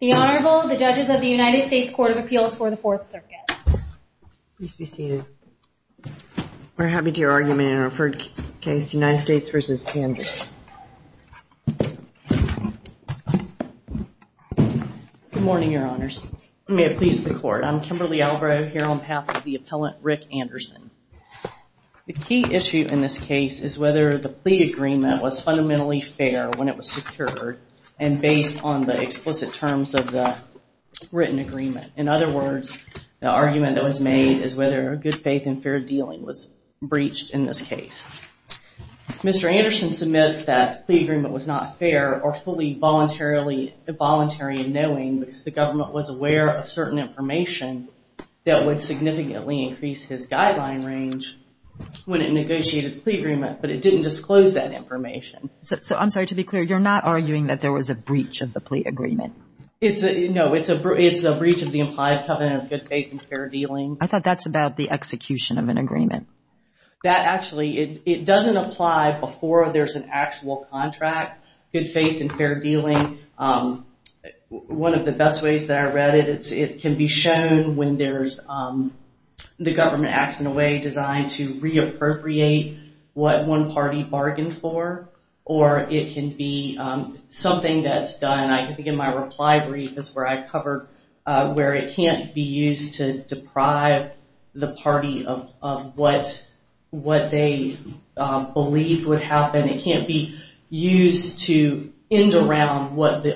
the honorable the judges of the United States Court of Appeals for the Fourth Circuit. Please be seated. We're happy to hear argument in a referred case United States v. Anderson. Good morning your honors. May it please the court I'm Kimberly Albro here on behalf of the appellant Rick Anderson. The key issue in this case is whether the plea agreement was fundamentally fair when it was secured and based on the explicit terms of the written agreement. In other words the argument that was made is whether a good faith and fair dealing was breached in this case. Mr. Anderson submits that the agreement was not fair or fully voluntarily involuntary in knowing because the government was aware of certain information that would significantly increase his guideline range when it negotiated the plea agreement but it didn't disclose that information. So I'm sorry to be clear you're not arguing that there was a breach of the plea agreement. It's a no it's a it's a breach of the implied covenant of good faith and fair dealing. I thought that's about the execution of an agreement. That actually it doesn't apply before there's an actual contract good faith and fair dealing. One of the best ways that I read it it can be shown when there's the government acts in a way designed to reappropriate what one party bargained for or it can be something that's done I think in my reply brief is where I covered where it can't be used to deprive the party of what what they believe would happen. It can't be used to end around what the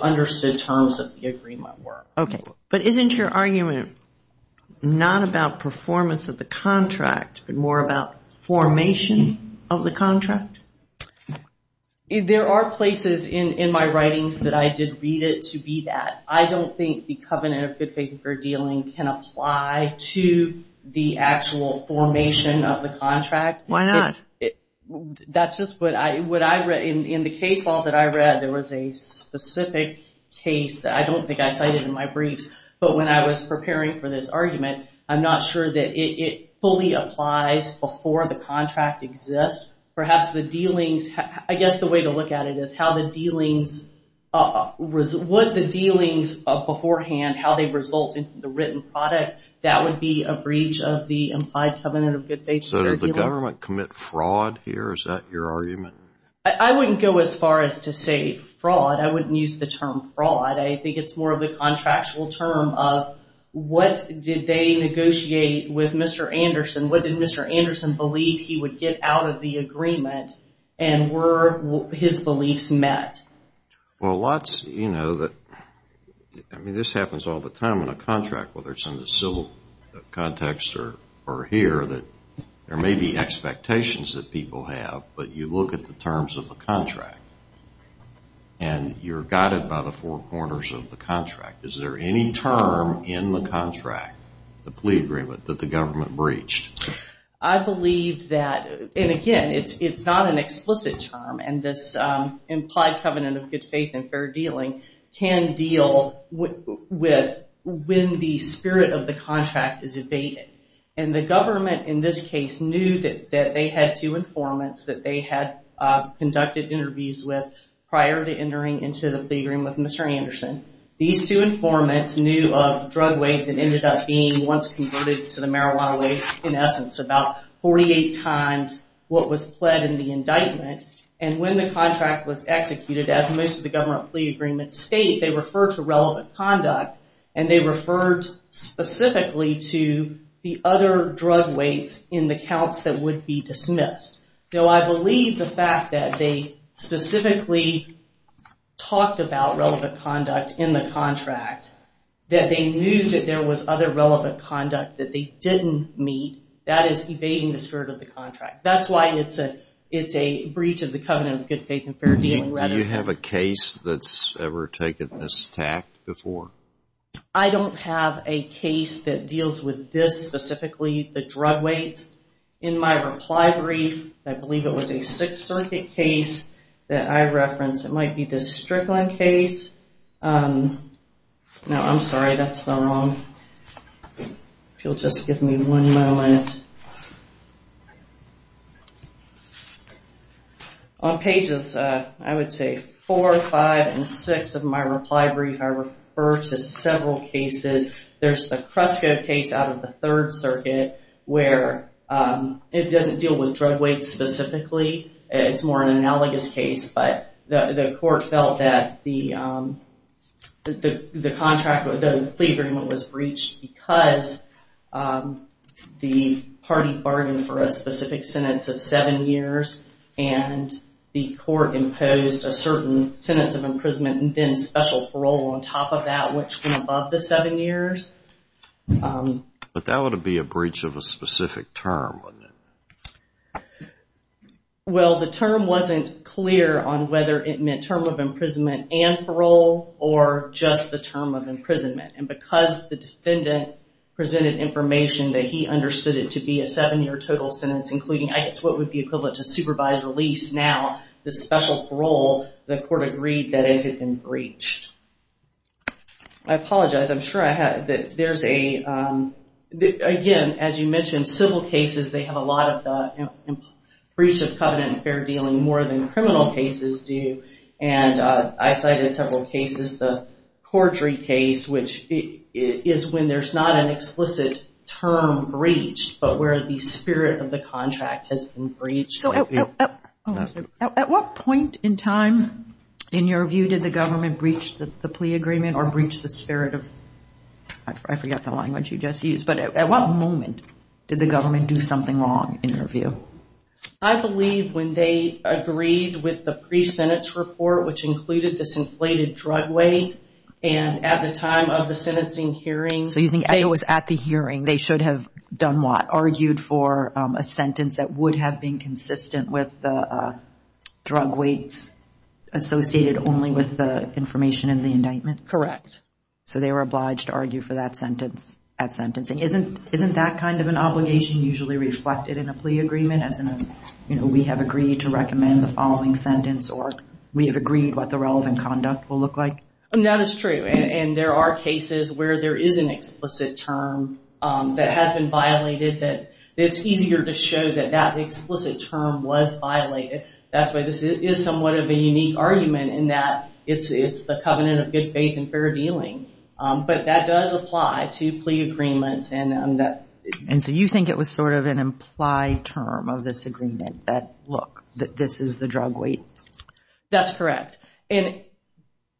not about performance of the contract but more about formation of the contract. There are places in in my writings that I did read it to be that. I don't think the covenant of good faith and fair dealing can apply to the actual formation of the contract. Why not? That's just what I what I read in the case law that I read there was a specific case that I don't think I cited in my this argument. I'm not sure that it fully applies before the contract exists. Perhaps the dealings I guess the way to look at it is how the dealings was what the dealings of beforehand how they result in the written product that would be a breach of the implied covenant of good faith. So does the government commit fraud here? Is that your argument? I wouldn't go as far as to say fraud. I wouldn't use the term fraud. I think it's more of the contractual term of what did they negotiate with Mr. Anderson? What did Mr. Anderson believe he would get out of the agreement and were his beliefs met? Well lots you know that I mean this happens all the time in a contract whether it's in the civil context or or here that there may be expectations that people have but you look at the terms of the contract and you're guided by the four corners of the contract, the plea agreement that the government breached. I believe that and again it's it's not an explicit term and this implied covenant of good faith and fair dealing can deal with when the spirit of the contract is evaded and the government in this case knew that that they had two informants that they had conducted interviews with prior to entering into the plea agreement with being once converted to the marijuana way in essence about 48 times what was pled in the indictment and when the contract was executed as most of the government plea agreement state they refer to relevant conduct and they referred specifically to the other drug weights in the counts that would be dismissed. So I believe the fact that they specifically talked about relevant conduct in the contract that they knew that there was other relevant conduct that they didn't meet that is evading the spirit of the contract. That's why it's a it's a breach of the covenant of good faith and fair dealing. Do you have a case that's ever taken this tact before? I don't have a case that deals with this specifically the drug weight. In my reply brief I believe it was a Sixth Circuit case that I referenced. It might be the Strickland case. No I'm sorry that's wrong. If you'll just give me one moment. On pages I would say four, five, and six of my reply brief I refer to several cases. There's the Krusko case out of the analogous case but the court felt that the contract with the plea agreement was breached because the party bargained for a specific sentence of seven years and the court imposed a certain sentence of imprisonment and then special parole on top of that which went above the seven years. But that would be a breach of a clear on whether it meant term of imprisonment and parole or just the term of imprisonment and because the defendant presented information that he understood it to be a seven-year total sentence including I guess what would be equivalent to supervised release now the special parole the court agreed that it had been breached. I apologize I'm sure I had that there's a again as you mentioned civil cases they have a lot of the breach of covenant and fair dealing more than criminal cases do and I cited several cases the Cordry case which is when there's not an explicit term breached but where the spirit of the contract has been breached. So at what point in time in your view did the government breach the plea agreement or breach the spirit of I forgot the language you just used but at what moment did the government do something wrong in your view? I believe when they agreed with the pre-senate's report which included this inflated drug weight and at the time of the sentencing hearing. So you think it was at the hearing they should have done what argued for a sentence that would have been consistent with the drug weights associated only with the information in the indictment? Correct. So they were obliged to argue for that sentence at sentencing isn't isn't that kind of an obligation usually reflected in a plea agreement as in you know we have agreed to recommend the following sentence or we have agreed what the relevant conduct will look like? That is true and there are cases where there is an explicit term that has been violated that it's easier to show that that the explicit term was violated that's why this is somewhat of a unique argument in that it's it's the covenant of good faith and fair dealing but that does apply to plea agreements and that. And so you think it was sort of an implied term of this agreement that look that this is the drug weight? That's correct and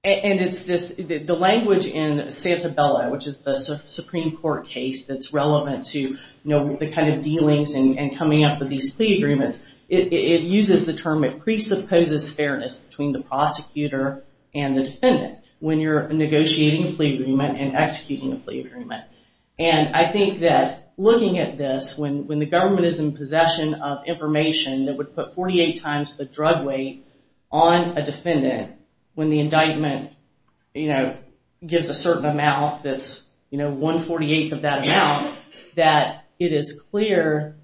and it's this the language in Santabella which is the Supreme Court case that's relevant to you know the kind of dealings and coming up with these plea agreements it uses the term it presupposes fairness between the prosecutor and the defendant when you're looking at this when when the government is in possession of information that would put 48 times the drug weight on a defendant when the indictment you know gives a certain amount that's you know 1 48th of that amount that it is clear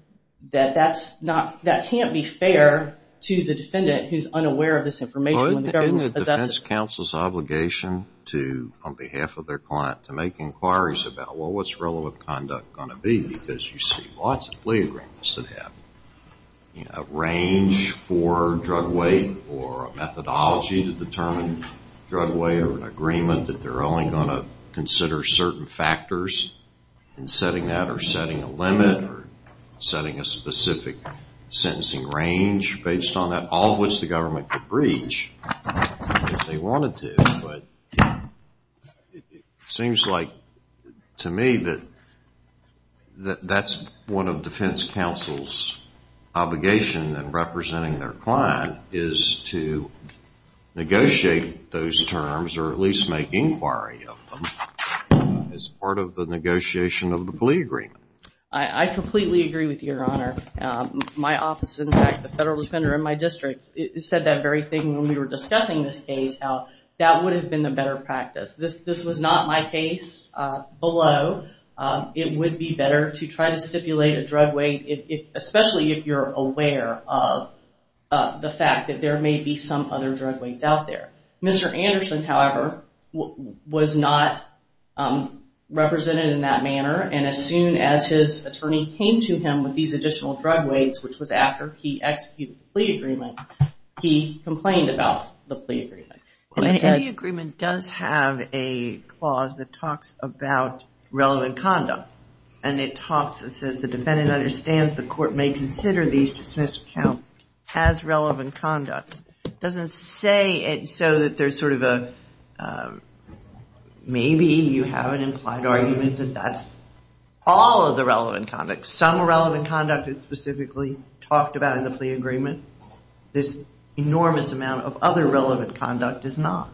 that that's not that can't be fair to the defendant who's unaware of this information. Isn't it the defense counsel's obligation to on behalf of their client to make inquiries about well what's relevant conduct going to be because you see lots of plea agreements that have a range for drug weight or a methodology to determine drug weight or an agreement that they're only going to consider certain factors in setting that or setting a limit or setting a specific sentencing range based on that all of which the government could breach if they wanted to but it seems like to me that that that's one of defense counsel's obligation and representing their client is to negotiate those terms or at least make inquiry of them as part of the negotiation of the plea agreement. I completely agree with your honor. My office in fact the federal defender in my district said that very thing when we were discussing this case how that would have been the better practice this this was not my case below it would be better to try to stipulate a drug weight if especially if you're aware of the fact that there may be some other drug weights out there. Mr. Anderson however was not represented in that manner and as soon as his attorney came to him with these additional drug weights which was after he executed the plea agreement he complained about the plea agreement. The agreement does have a clause that talks about relevant conduct and it talks it says the defendant understands the court may consider these dismissed counts as relevant conduct. It doesn't say it so that there's sort of a maybe you have an argument that that's all of the relevant conduct some relevant conduct is specifically talked about in the plea agreement this enormous amount of other relevant conduct is not.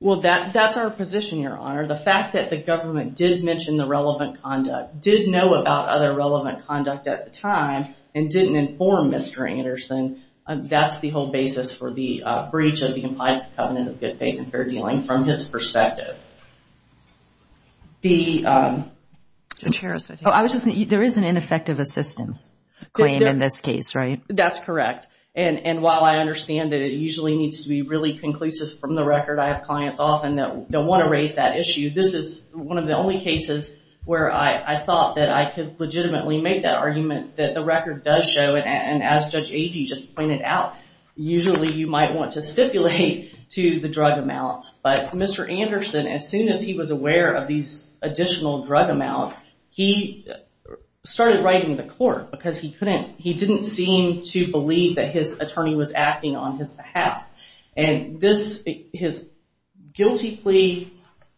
Well that that's our position your honor the fact that the government did mention the relevant conduct did know about other relevant conduct at the time and didn't inform Mr. Anderson and that's the whole basis for the breach of the implied covenant of good faith and fair dealing from his The chair, oh I was just there is an ineffective assistance claim in this case right? That's correct and and while I understand that it usually needs to be really conclusive from the record I have clients often that don't want to raise that issue this is one of the only cases where I thought that I could legitimately make that argument that the record does show and as Judge Agee just pointed out usually you might want to stipulate to the drug amounts but Mr. Anderson as soon as he was aware of these additional drug amounts he started writing the court because he couldn't he didn't seem to believe that his attorney was acting on his behalf and this his guilty plea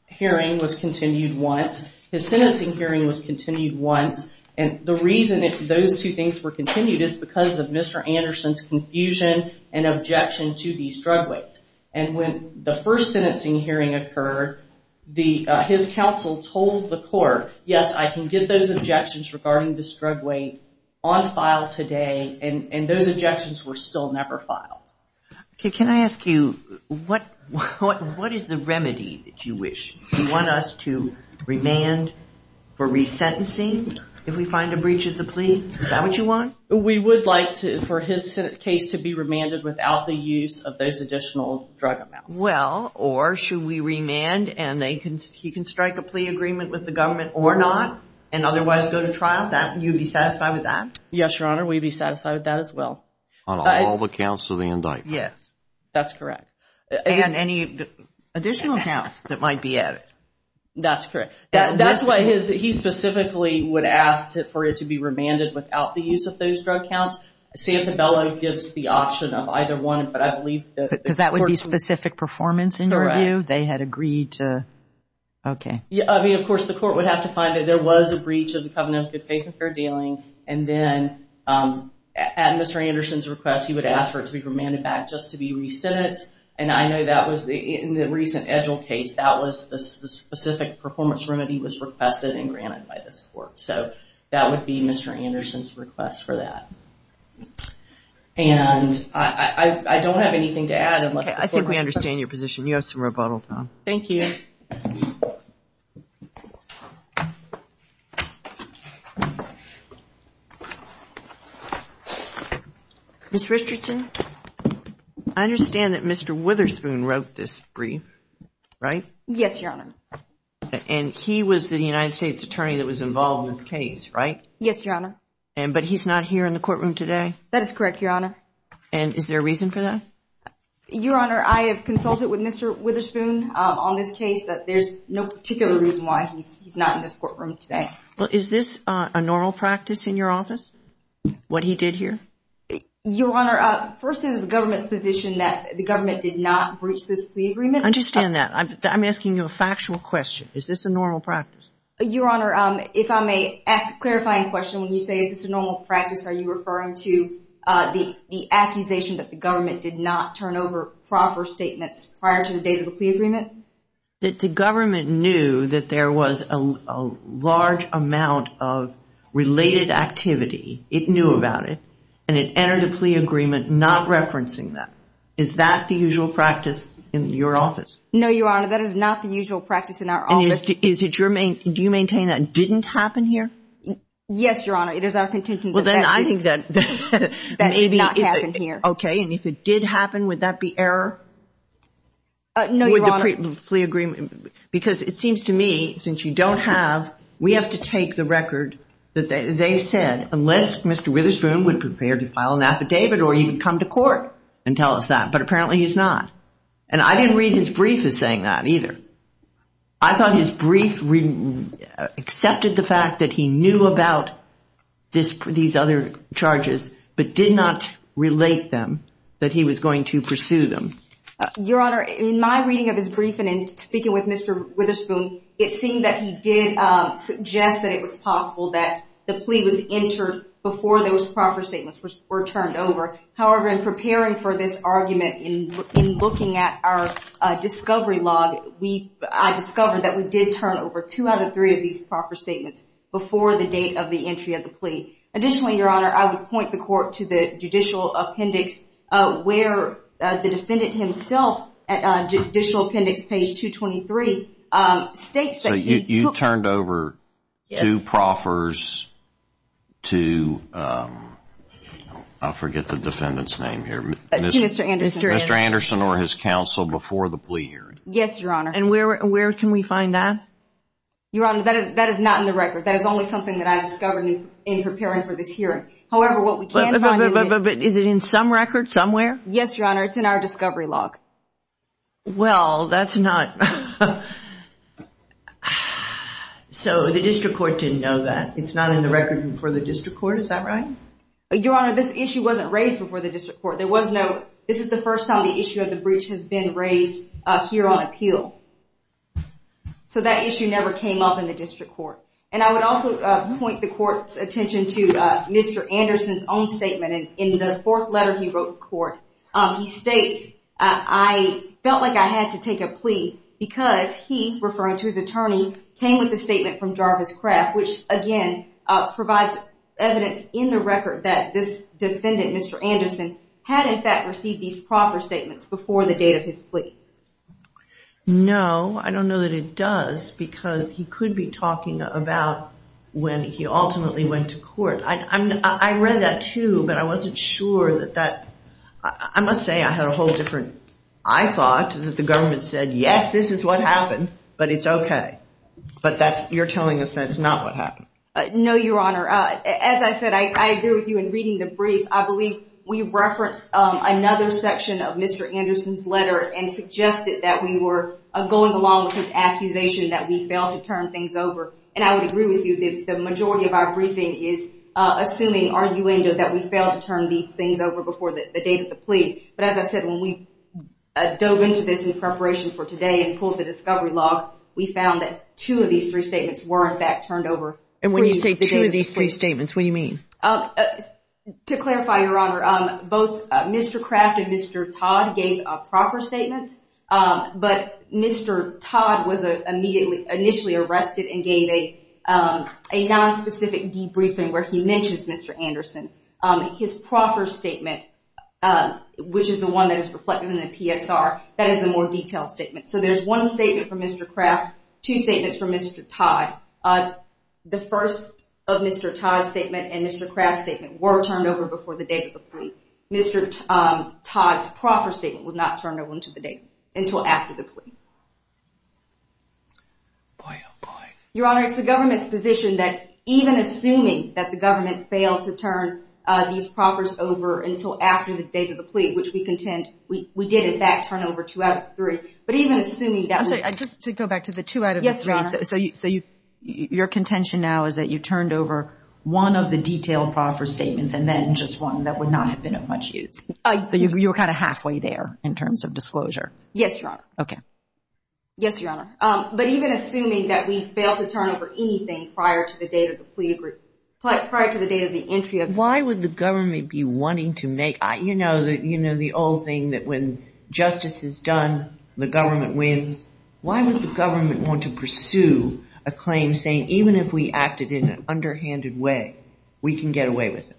hearing was continued once his sentencing hearing was continued once and the reason that those two things were continued is because of Mr. Anderson's confusion and objection to these drug weights and when the first sentencing hearing occurred the his counsel told the court yes I can get those objections regarding this drug weight on file today and and those objections were still never filed. Okay can I ask you what what what is the remedy that you wish? You want us to remand for resentencing if we find a breach of the plea? Is that what you want? We would like to for his case to be remanded without the use of those additional drug amounts. Well or should we remand and they can he can strike a plea agreement with the government or not and otherwise go to trial that you be satisfied with that? Yes your honor we'd be satisfied with that as well. On all the counts of the indictment? Yes that's correct. And any additional counts that might be added? That's correct that's why his he specifically would ask for it to be remanded without the use of those drug counts. Santabella gives the option of either one but I believe. Because that would be specific performance in your view? They had agreed to okay. Yeah I mean of course the court would have to find it there was a breach of the Covenant of Good Faith and Fair Dealing and then at Mr. Anderson's request he would ask for it to be remanded back just to be resented and I know that was the in the recent Edgell case that was the specific performance remedy was requested and Mr. Anderson's request for that and I don't have anything to add. I think we understand your position you have some rebuttal Tom. Thank you. Ms. Richardson I understand that Mr. Witherspoon wrote this brief right? Yes your honor. And he was the United States Attorney that was involved in this case right? Yes your honor. And but he's not here in the courtroom today? That is correct your honor. And is there a reason for that? Your honor I have consulted with Mr. Witherspoon on this case that there's no particular reason why he's not in this courtroom today. Well is this a normal practice in your office what he did here? Your honor first is the government's position that the government did not breach this plea agreement. I understand that I'm asking you a factual question. Is this a normal practice? Your honor if I may ask a clarifying question when you say is this a normal practice are you referring to the accusation that the government did not turn over proper statements prior to the date of the plea agreement? That the government knew that there was a large amount of related activity it knew about it and it entered a plea agreement not referencing that. Is that the usual practice in your office? No your honor that is not the usual practice in our office. Is it your main do you maintain that didn't happen here? Yes your honor it is our contention. Well then I think that maybe it happened here. Okay and if it did happen would that be error? No your honor. With the plea agreement because it seems to me since you don't have we have to take the record that they said unless Mr. Witherspoon would prepare to file an affidavit or you come to court and tell us that but apparently he's not and I didn't read his brief is saying that either. I thought his brief really accepted the fact that he knew about this for these other charges but did not relate them that he was going to pursue them. Your honor in my reading of his briefing and speaking with Mr. Witherspoon it seemed that he did suggest that it was possible that the plea was entered before those proper statements were turned over. However in preparing for this argument in looking at our discovery log we I discovered that we did turn over two out of three of these proper statements before the date of the entry of the plea. Additionally your honor I would point the court to the judicial appendix where the defendant himself at judicial appendix page 223 states that you turned over two proffers to I forget the defendant's name here. Mr. Anderson. Mr. Yes your honor. And where can we find that? Your honor that is not in the record that is only something that I discovered in preparing for this hearing. However what we can find. But is it in some record somewhere? Yes your honor it's in our discovery log. Well that's not so the district court didn't know that it's not in the record for the district court is that right? Your honor this issue wasn't raised before the district court there was no this is the first time the breach has been raised here on appeal. So that issue never came up in the district court and I would also point the court's attention to Mr. Anderson's own statement and in the fourth letter he wrote the court he states I felt like I had to take a plea because he referring to his attorney came with the statement from Jarvis Kraft which again provides evidence in the record that this defendant Mr. Anderson had in fact received these proper statements before the date of his plea. No I don't know that it does because he could be talking about when he ultimately went to court. I mean I read that too but I wasn't sure that that I must say I had a whole different I thought that the government said yes this is what happened but it's okay but that's you're telling us that's not what happened. No your honor as I said I agree with you in reading the letter and suggested that we were going along with his accusation that we failed to turn things over and I would agree with you the majority of our briefing is assuming arguendo that we failed to turn these things over before the date of the plea but as I said when we dove into this in preparation for today and pulled the discovery log we found that two of these three statements were in fact turned over. And when you say two of these three statements what do you mean? To clarify your honor both Mr. Kraft and Mr. Todd gave proper statements but Mr. Todd was a immediately initially arrested and gave a a non-specific debriefing where he mentions Mr. Anderson. His proper statement which is the one that is reflected in the PSR that is the more detailed statement so there's one statement from Mr. Kraft two statements from Mr. Todd. The first of Mr. Kraft's statements were turned over before the date of the plea. Mr. Todd's proper statement was not turned over until after the plea. Your honor it's the government's position that even assuming that the government failed to turn these proffers over until after the date of the plea which we contend we did in fact turn over two out of three but even assuming that... I'm sorry just to go back to the two out of three so you so you your contention now is that you turned over one of the detailed proffer statements and then just one that would not have been of much use. So you were kind of halfway there in terms of disclosure. Yes your honor. Okay. Yes your honor but even assuming that we failed to turn over anything prior to the date of the plea prior to the date of the entry of... Why would the government be wanting to make I you know that you know the old thing that when justice is done the government wins. Why would the government want to pursue a claim saying even if we acted in an underhanded way we can get away with it.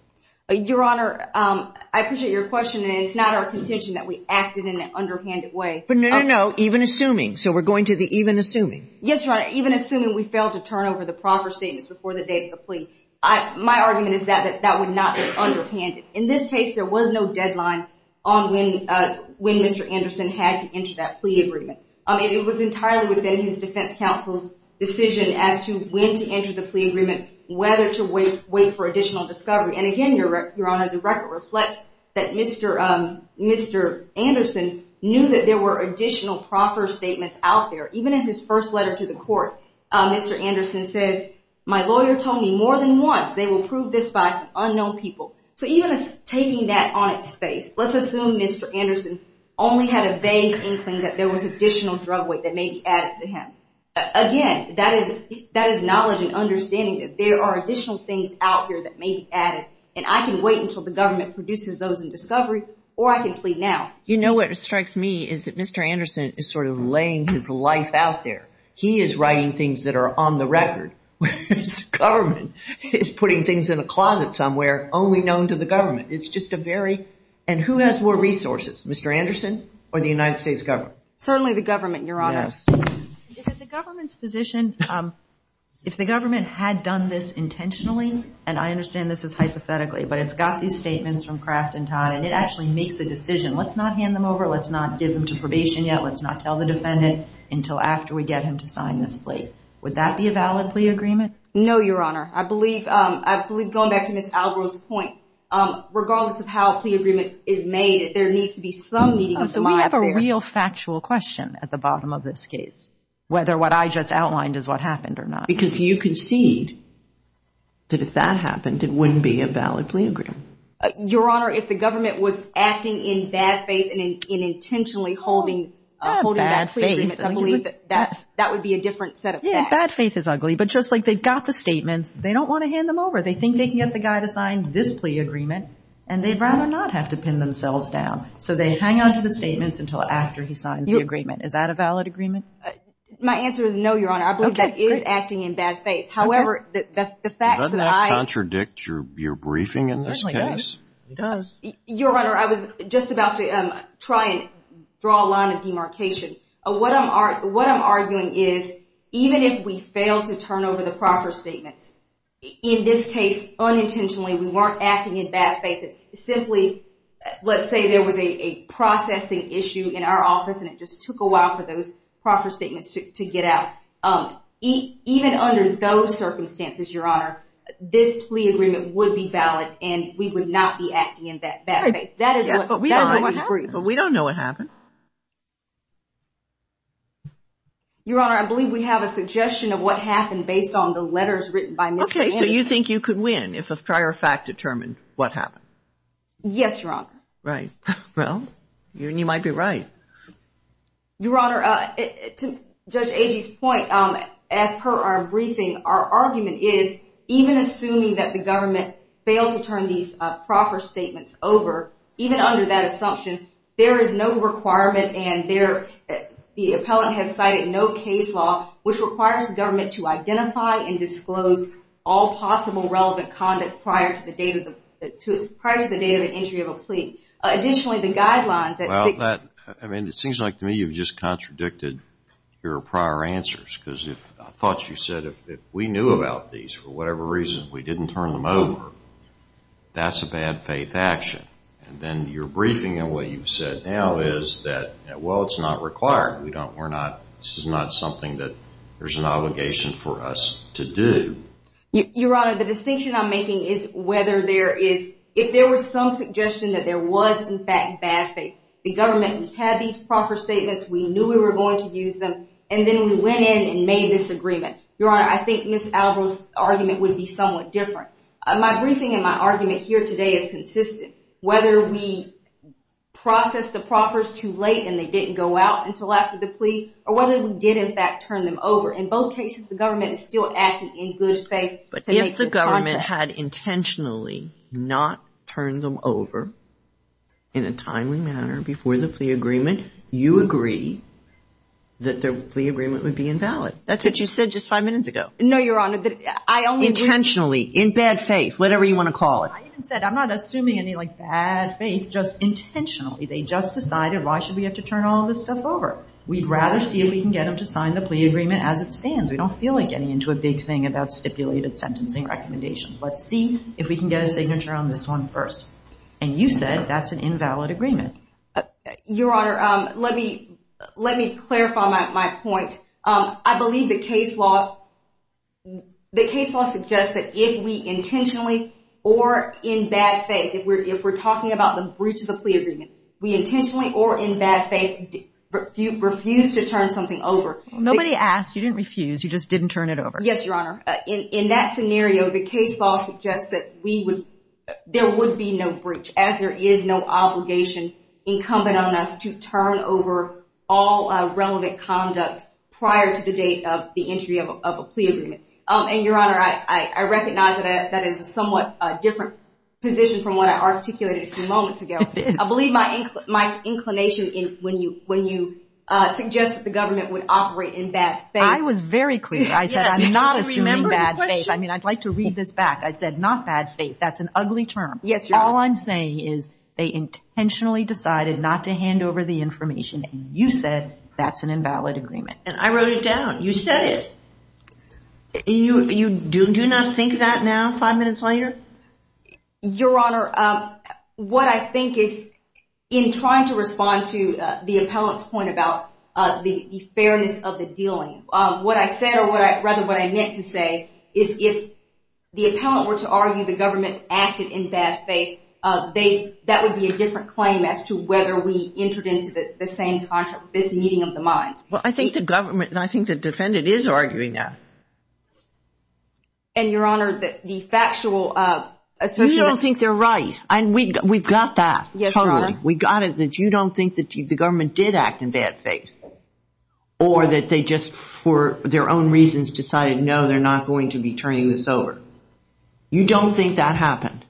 Your honor I appreciate your question and it's not our contention that we acted in an underhanded way. But no no no even assuming so we're going to the even assuming. Yes your honor even assuming we failed to turn over the proffer statements before the date of the plea. I my argument is that that would not be underhanded. In this case there was no deadline on when when Mr. Anderson had to enter that plea agreement. I mean it was entirely within his defense counsel's decision as to when to enter the plea agreement whether to wait wait for additional discovery. And again your honor the record reflects that Mr. Anderson knew that there were additional proffer statements out there. Even in his first letter to the court Mr. Anderson says my lawyer told me more than once they will prove this bias to unknown people. So even taking that on its face let's assume Mr. Anderson only had a vague inkling that there was additional drug weight that may be added to him. Again that is that is knowledge and understanding that there are additional things out here that may be added and I can wait until the government produces those in discovery or I can plead now. You know what strikes me is that Mr. Anderson is sort of laying his life out there. He is writing things that are on the record. The government is putting things in a closet somewhere only known to the government. It's just a very and who has more resources Mr. Anderson or the United States government? Certainly the government your honor. The government's position if the government had done this intentionally and I understand this is hypothetically but it's got these statements from Kraft and Todd and it actually makes the decision let's not hand them over let's not give them to probation yet let's not tell the Would that be a valid plea agreement? No your honor I believe I believe going back to Miss Alvaro's point regardless of how a plea agreement is made there needs to be some meeting of the mind. So we have a real factual question at the bottom of this case whether what I just outlined is what happened or not. Because you concede that if that happened it wouldn't be a valid plea agreement. Your honor if the government was acting in bad faith and in intentionally holding that would be a different set of facts. Bad faith is ugly but just like they've got the statements they don't want to hand them over they think they can get the guy to sign this plea agreement and they'd rather not have to pin themselves down so they hang on to the statements until after he signs the agreement. Is that a valid agreement? My answer is no your honor I believe that is acting in bad faith however the facts that I... Does that contradict your briefing in this case? Your honor I was just about to try and draw a line of demarcation. What I'm arguing is even if we fail to turn over the proper statements in this case unintentionally we weren't acting in bad faith it's simply let's say there was a processing issue in our office and it just took a while for those proper statements to get out. Even under those circumstances your honor this plea agreement would be valid and we would not be acting in that bad faith. That is what we don't agree but we don't know what happened. Your honor I believe we have a suggestion of what happened based on the letters written by Mr. Anderson. Okay so you think you could win if a prior fact determined what happened? Yes your honor. Right well you might be right. Your honor to Judge Agee's point as per our briefing our government failed to turn these proper statements over even under that assumption there is no requirement and there the appellant has cited no case law which requires the government to identify and disclose all possible relevant conduct prior to the date of the prior to the date of an injury of a plea. Additionally the guidelines... Well that I mean it seems like to me you've just contradicted your prior answers because if I thought you said if we knew about these for whatever reason we didn't turn them over that's a bad faith action and then your briefing and what you've said now is that well it's not required we don't we're not this is not something that there's an obligation for us to do. Your honor the distinction I'm making is whether there is if there were some suggestion that there was in fact bad faith the government had these proper statements we knew we were going to use them and then we went in and made this agreement. Your honor I think Miss Alvaro's argument would be somewhat different. My briefing and my argument here today is consistent whether we process the proffers too late and they didn't go out until after the plea or whether we did in fact turn them over in both cases the government is still acting in good faith. But if the government had intentionally not turned them over in a timely manner before the plea agreement you agree that their plea agreement would be invalid. That's what you said just five minutes ago. No your honor that I only. Intentionally in bad faith whatever you want to call it. I said I'm not assuming any like bad faith just intentionally they just decided why should we have to turn all this stuff over we'd rather see if we can get them to sign the plea agreement as it stands we don't feel like getting into a big thing about stipulated sentencing recommendations let's see if we can get a signature on this one first and you said that's an invalid agreement. Your honor let me let me clarify my point I believe the case law the case law suggests that if we intentionally or in bad faith if we're if we're talking about the breach of the plea agreement we intentionally or in bad faith refused to turn something over. Nobody asked you didn't refuse you just didn't turn it over. Yes your honor in that scenario the case law suggests that we would there would be no breach as there is no obligation incumbent on us to turn over all relevant conduct prior to the date of the entry of a plea agreement and your honor I recognize that that is a somewhat a different position from what I articulated a few moments ago. I believe my my inclination in when you when you suggest that the government would operate in bad faith. I was very clear I said I'm not assuming bad faith I mean I'd like to read this back I said not bad faith that's an ugly term. Yes your honor. All I'm saying is they you said that's an invalid agreement. And I wrote it down you said it. You you do do not think that now five minutes later? Your honor what I think is in trying to respond to the appellant's point about the fairness of the dealing what I said or what I rather what I meant to say is if the appellant were to argue the government acted in bad faith they that would be a different claim as to whether we entered into the same contract this meeting of the minds. Well I think the government and I think the defendant is arguing that. And your honor that the factual. You don't think they're right and we we've got that yes we got it that you don't think that the government did act in bad faith or that they just for their own reasons decided no they're not going to be turning this over. You don't think that happened?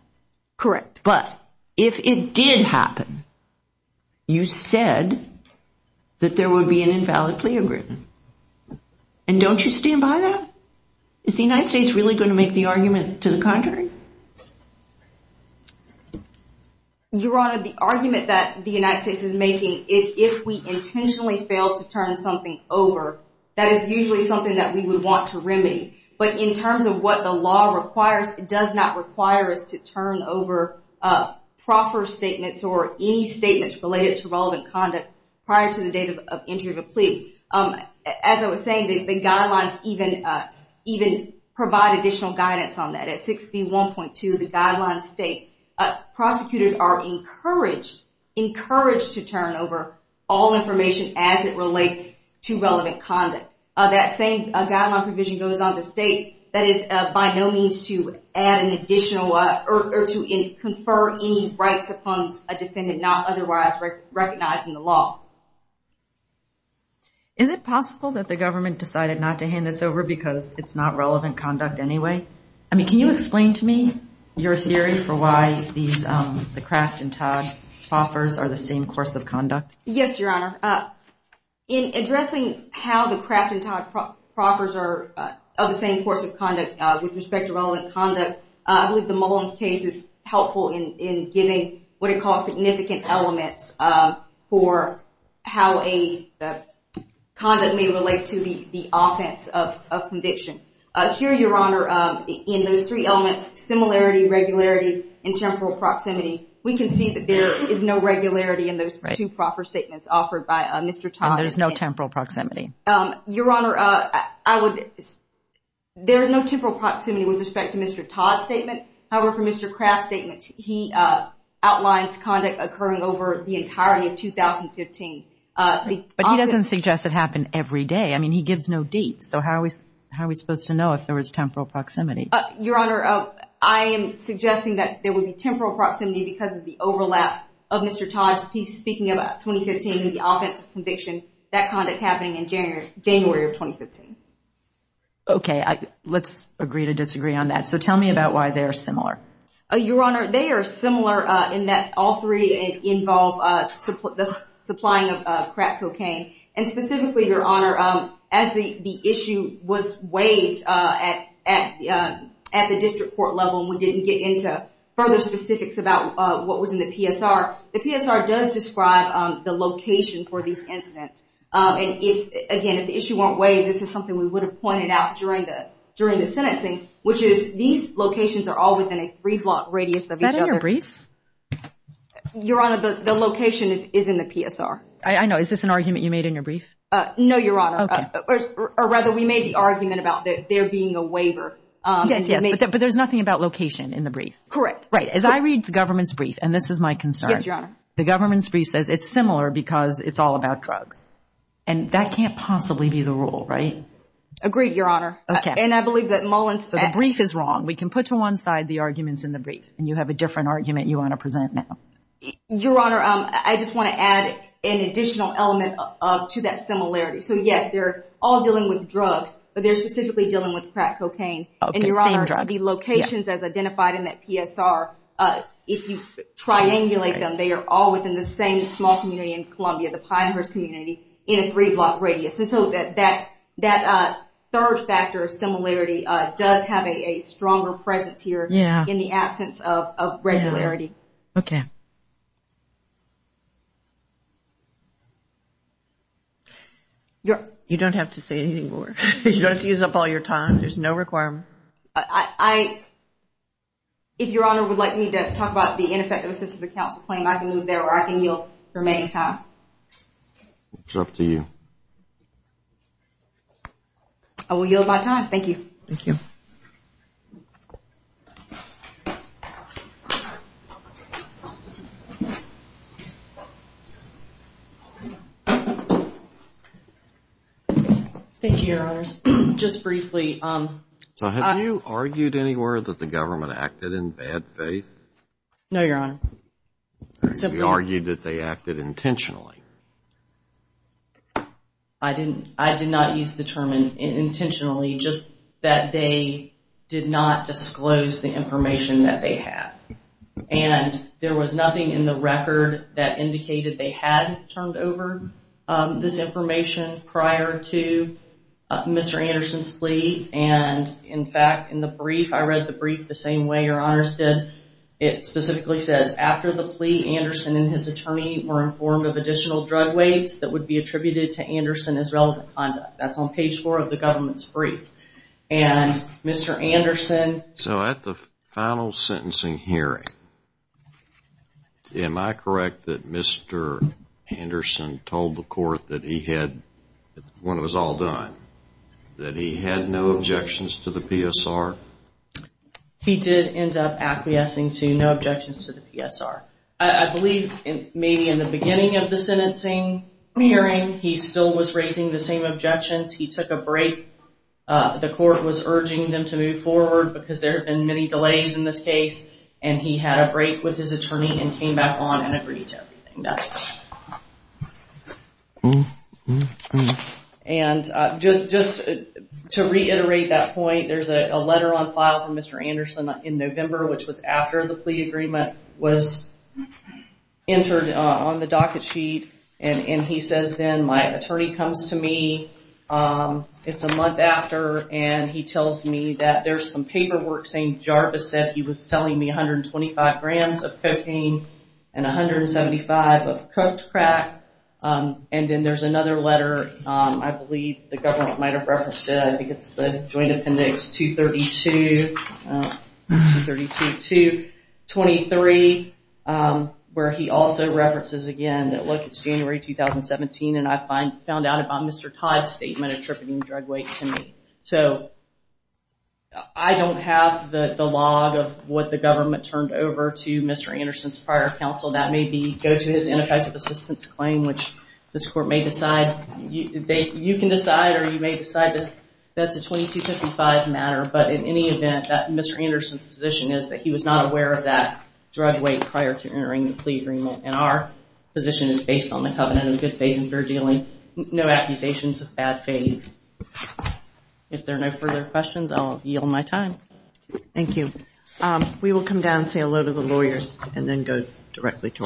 Correct. But if it did happen you said that there would be an invalid plea agreement and don't you stand by that? Is the United States really going to make the argument to the contrary? Your honor the argument that the United States is making is if we intentionally fail to turn something over that is usually something that we would want to remedy but in terms of what the law requires does not require us to turn over proper statements or any statements related to relevant conduct prior to the date of entry of a plea. As I was saying the guidelines even provide additional guidance on that. At 6B1.2 the guidelines state prosecutors are encouraged encouraged to turn over all information as it relates to relevant conduct. That same guideline provision goes on to state that is by no means to add an additional or to confer any rights upon a defendant not otherwise recognizing the law. Is it possible that the government decided not to hand this over because it's not relevant conduct anyway? I mean can you explain to me your theory for why these the Kraft and Todd proffers are the same course of conduct? Yes your honor. In addressing how the same course of conduct with respect to relevant conduct I believe the Mullins case is helpful in giving what it calls significant elements for how a conduct may relate to the the offense of conviction. Here your honor in those three elements similarity, regularity, and temporal proximity we can see that there is no regularity in those two proffer statements offered by Mr. Todd. There's no temporal proximity. Your There is no temporal proximity with respect to Mr. Todd's statement. However for Mr. Kraft's statement he outlines conduct occurring over the entirety of 2015. But he doesn't suggest it happened every day. I mean he gives no dates so how are we how are we supposed to know if there was temporal proximity? Your honor I am suggesting that there would be temporal proximity because of the overlap of Mr. Todd's piece speaking about 2015 in the offense of conviction that kind of happening in January of 2015. Okay let's agree to disagree on that so tell me about why they are similar. Your honor they are similar in that all three involve the supplying of crack cocaine and specifically your honor as the issue was waived at the district court level we didn't get into further specifics about what was in the PSR. The PSR does describe the location for these incidents and again if the issue weren't waived this is something we would have pointed out during the during the sentencing which is these locations are all within a three block radius of each other. Is that in your briefs? Your honor the location is in the PSR. I know is this an argument you made in your brief? No your honor or rather we made the argument about there being a waiver. Yes yes but there's nothing about location in the brief. Correct. Right as I read the government's brief and this is my concern. Yes your honor. The government's brief says it's similar because it's all about drugs and that can't possibly be the rule right? Agreed your honor. Okay. And I believe that Mullins. So the brief is wrong we can put to one side the arguments in the brief and you have a different argument you want to present now. Your honor I just want to add an additional element to that similarity so yes they're all dealing with drugs but they're specifically dealing with crack cocaine and your honor the locations as identified in that PSR if you triangulate them they are all within the same small community in Columbia the Pinehurst community in a three block radius and so that that that third factor of similarity does have a stronger presence here. Yeah. In the absence of regularity. Okay. You don't have to say anything more. You don't have to use up all your time. There's no requirement. I if your honor would like me to talk about the ineffective assistance of counsel claim I can move there or I can yield remaining time. It's up to you. I will yield my time. Thank you. Thank you. Thank you your honors. Just briefly. So have you argued anywhere that the government acted in bad faith? No your honor. Simply argued that they acted intentionally. I didn't I did not use the term intentionally just that they did not disclose the information that they had and there was nothing in the record that indicated they had turned over this information prior to Mr. Anderson's plea and in fact in the brief I read the brief the same way your honors did it specifically says after the plea Anderson and his attorney were informed of additional drug weights that would be attributed to Anderson as relevant conduct. That's on page four of the government's brief and Mr. Anderson. So at the final sentencing hearing am I correct that Mr. Anderson told the court that he had when it was all done that he had no objections to the PSR? He did end up acquiescing to no objections to the PSR. I believe in maybe in the beginning of the sentencing hearing he still was raising the same objections. He took a break. The court was urging them to move forward because there have been many delays in this case and he had a break with his attorney and came back on agree to everything. And just to reiterate that point there's a letter on file from Mr. Anderson in November which was after the plea agreement was entered on the docket sheet and he says then my attorney comes to me it's a month after and he tells me that there's some paperwork saying Jarvis said he was telling me 125 grams of cocaine and 175 of cooked crack. And then there's another letter I believe the government might have referenced it. I think it's the Joint Appendix 232-23 where he also references again that look it's January 2017 and I found out about Mr. Todd's statement attributing drug to me. So I don't have the log of what the government turned over to Mr. Anderson's prior counsel. That may be go to his ineffective assistance claim which this court may decide. You can decide or you may decide that that's a 2255 matter but in any event that Mr. Anderson's position is that he was not aware of that drug weight prior to entering the plea agreement and our position is based on the covenant of good faith and fair dealing. No accusations of bad faith. If there are no further questions I'll yield my time. Thank you. We will come down say hello to the lawyers and then go directly to our last case.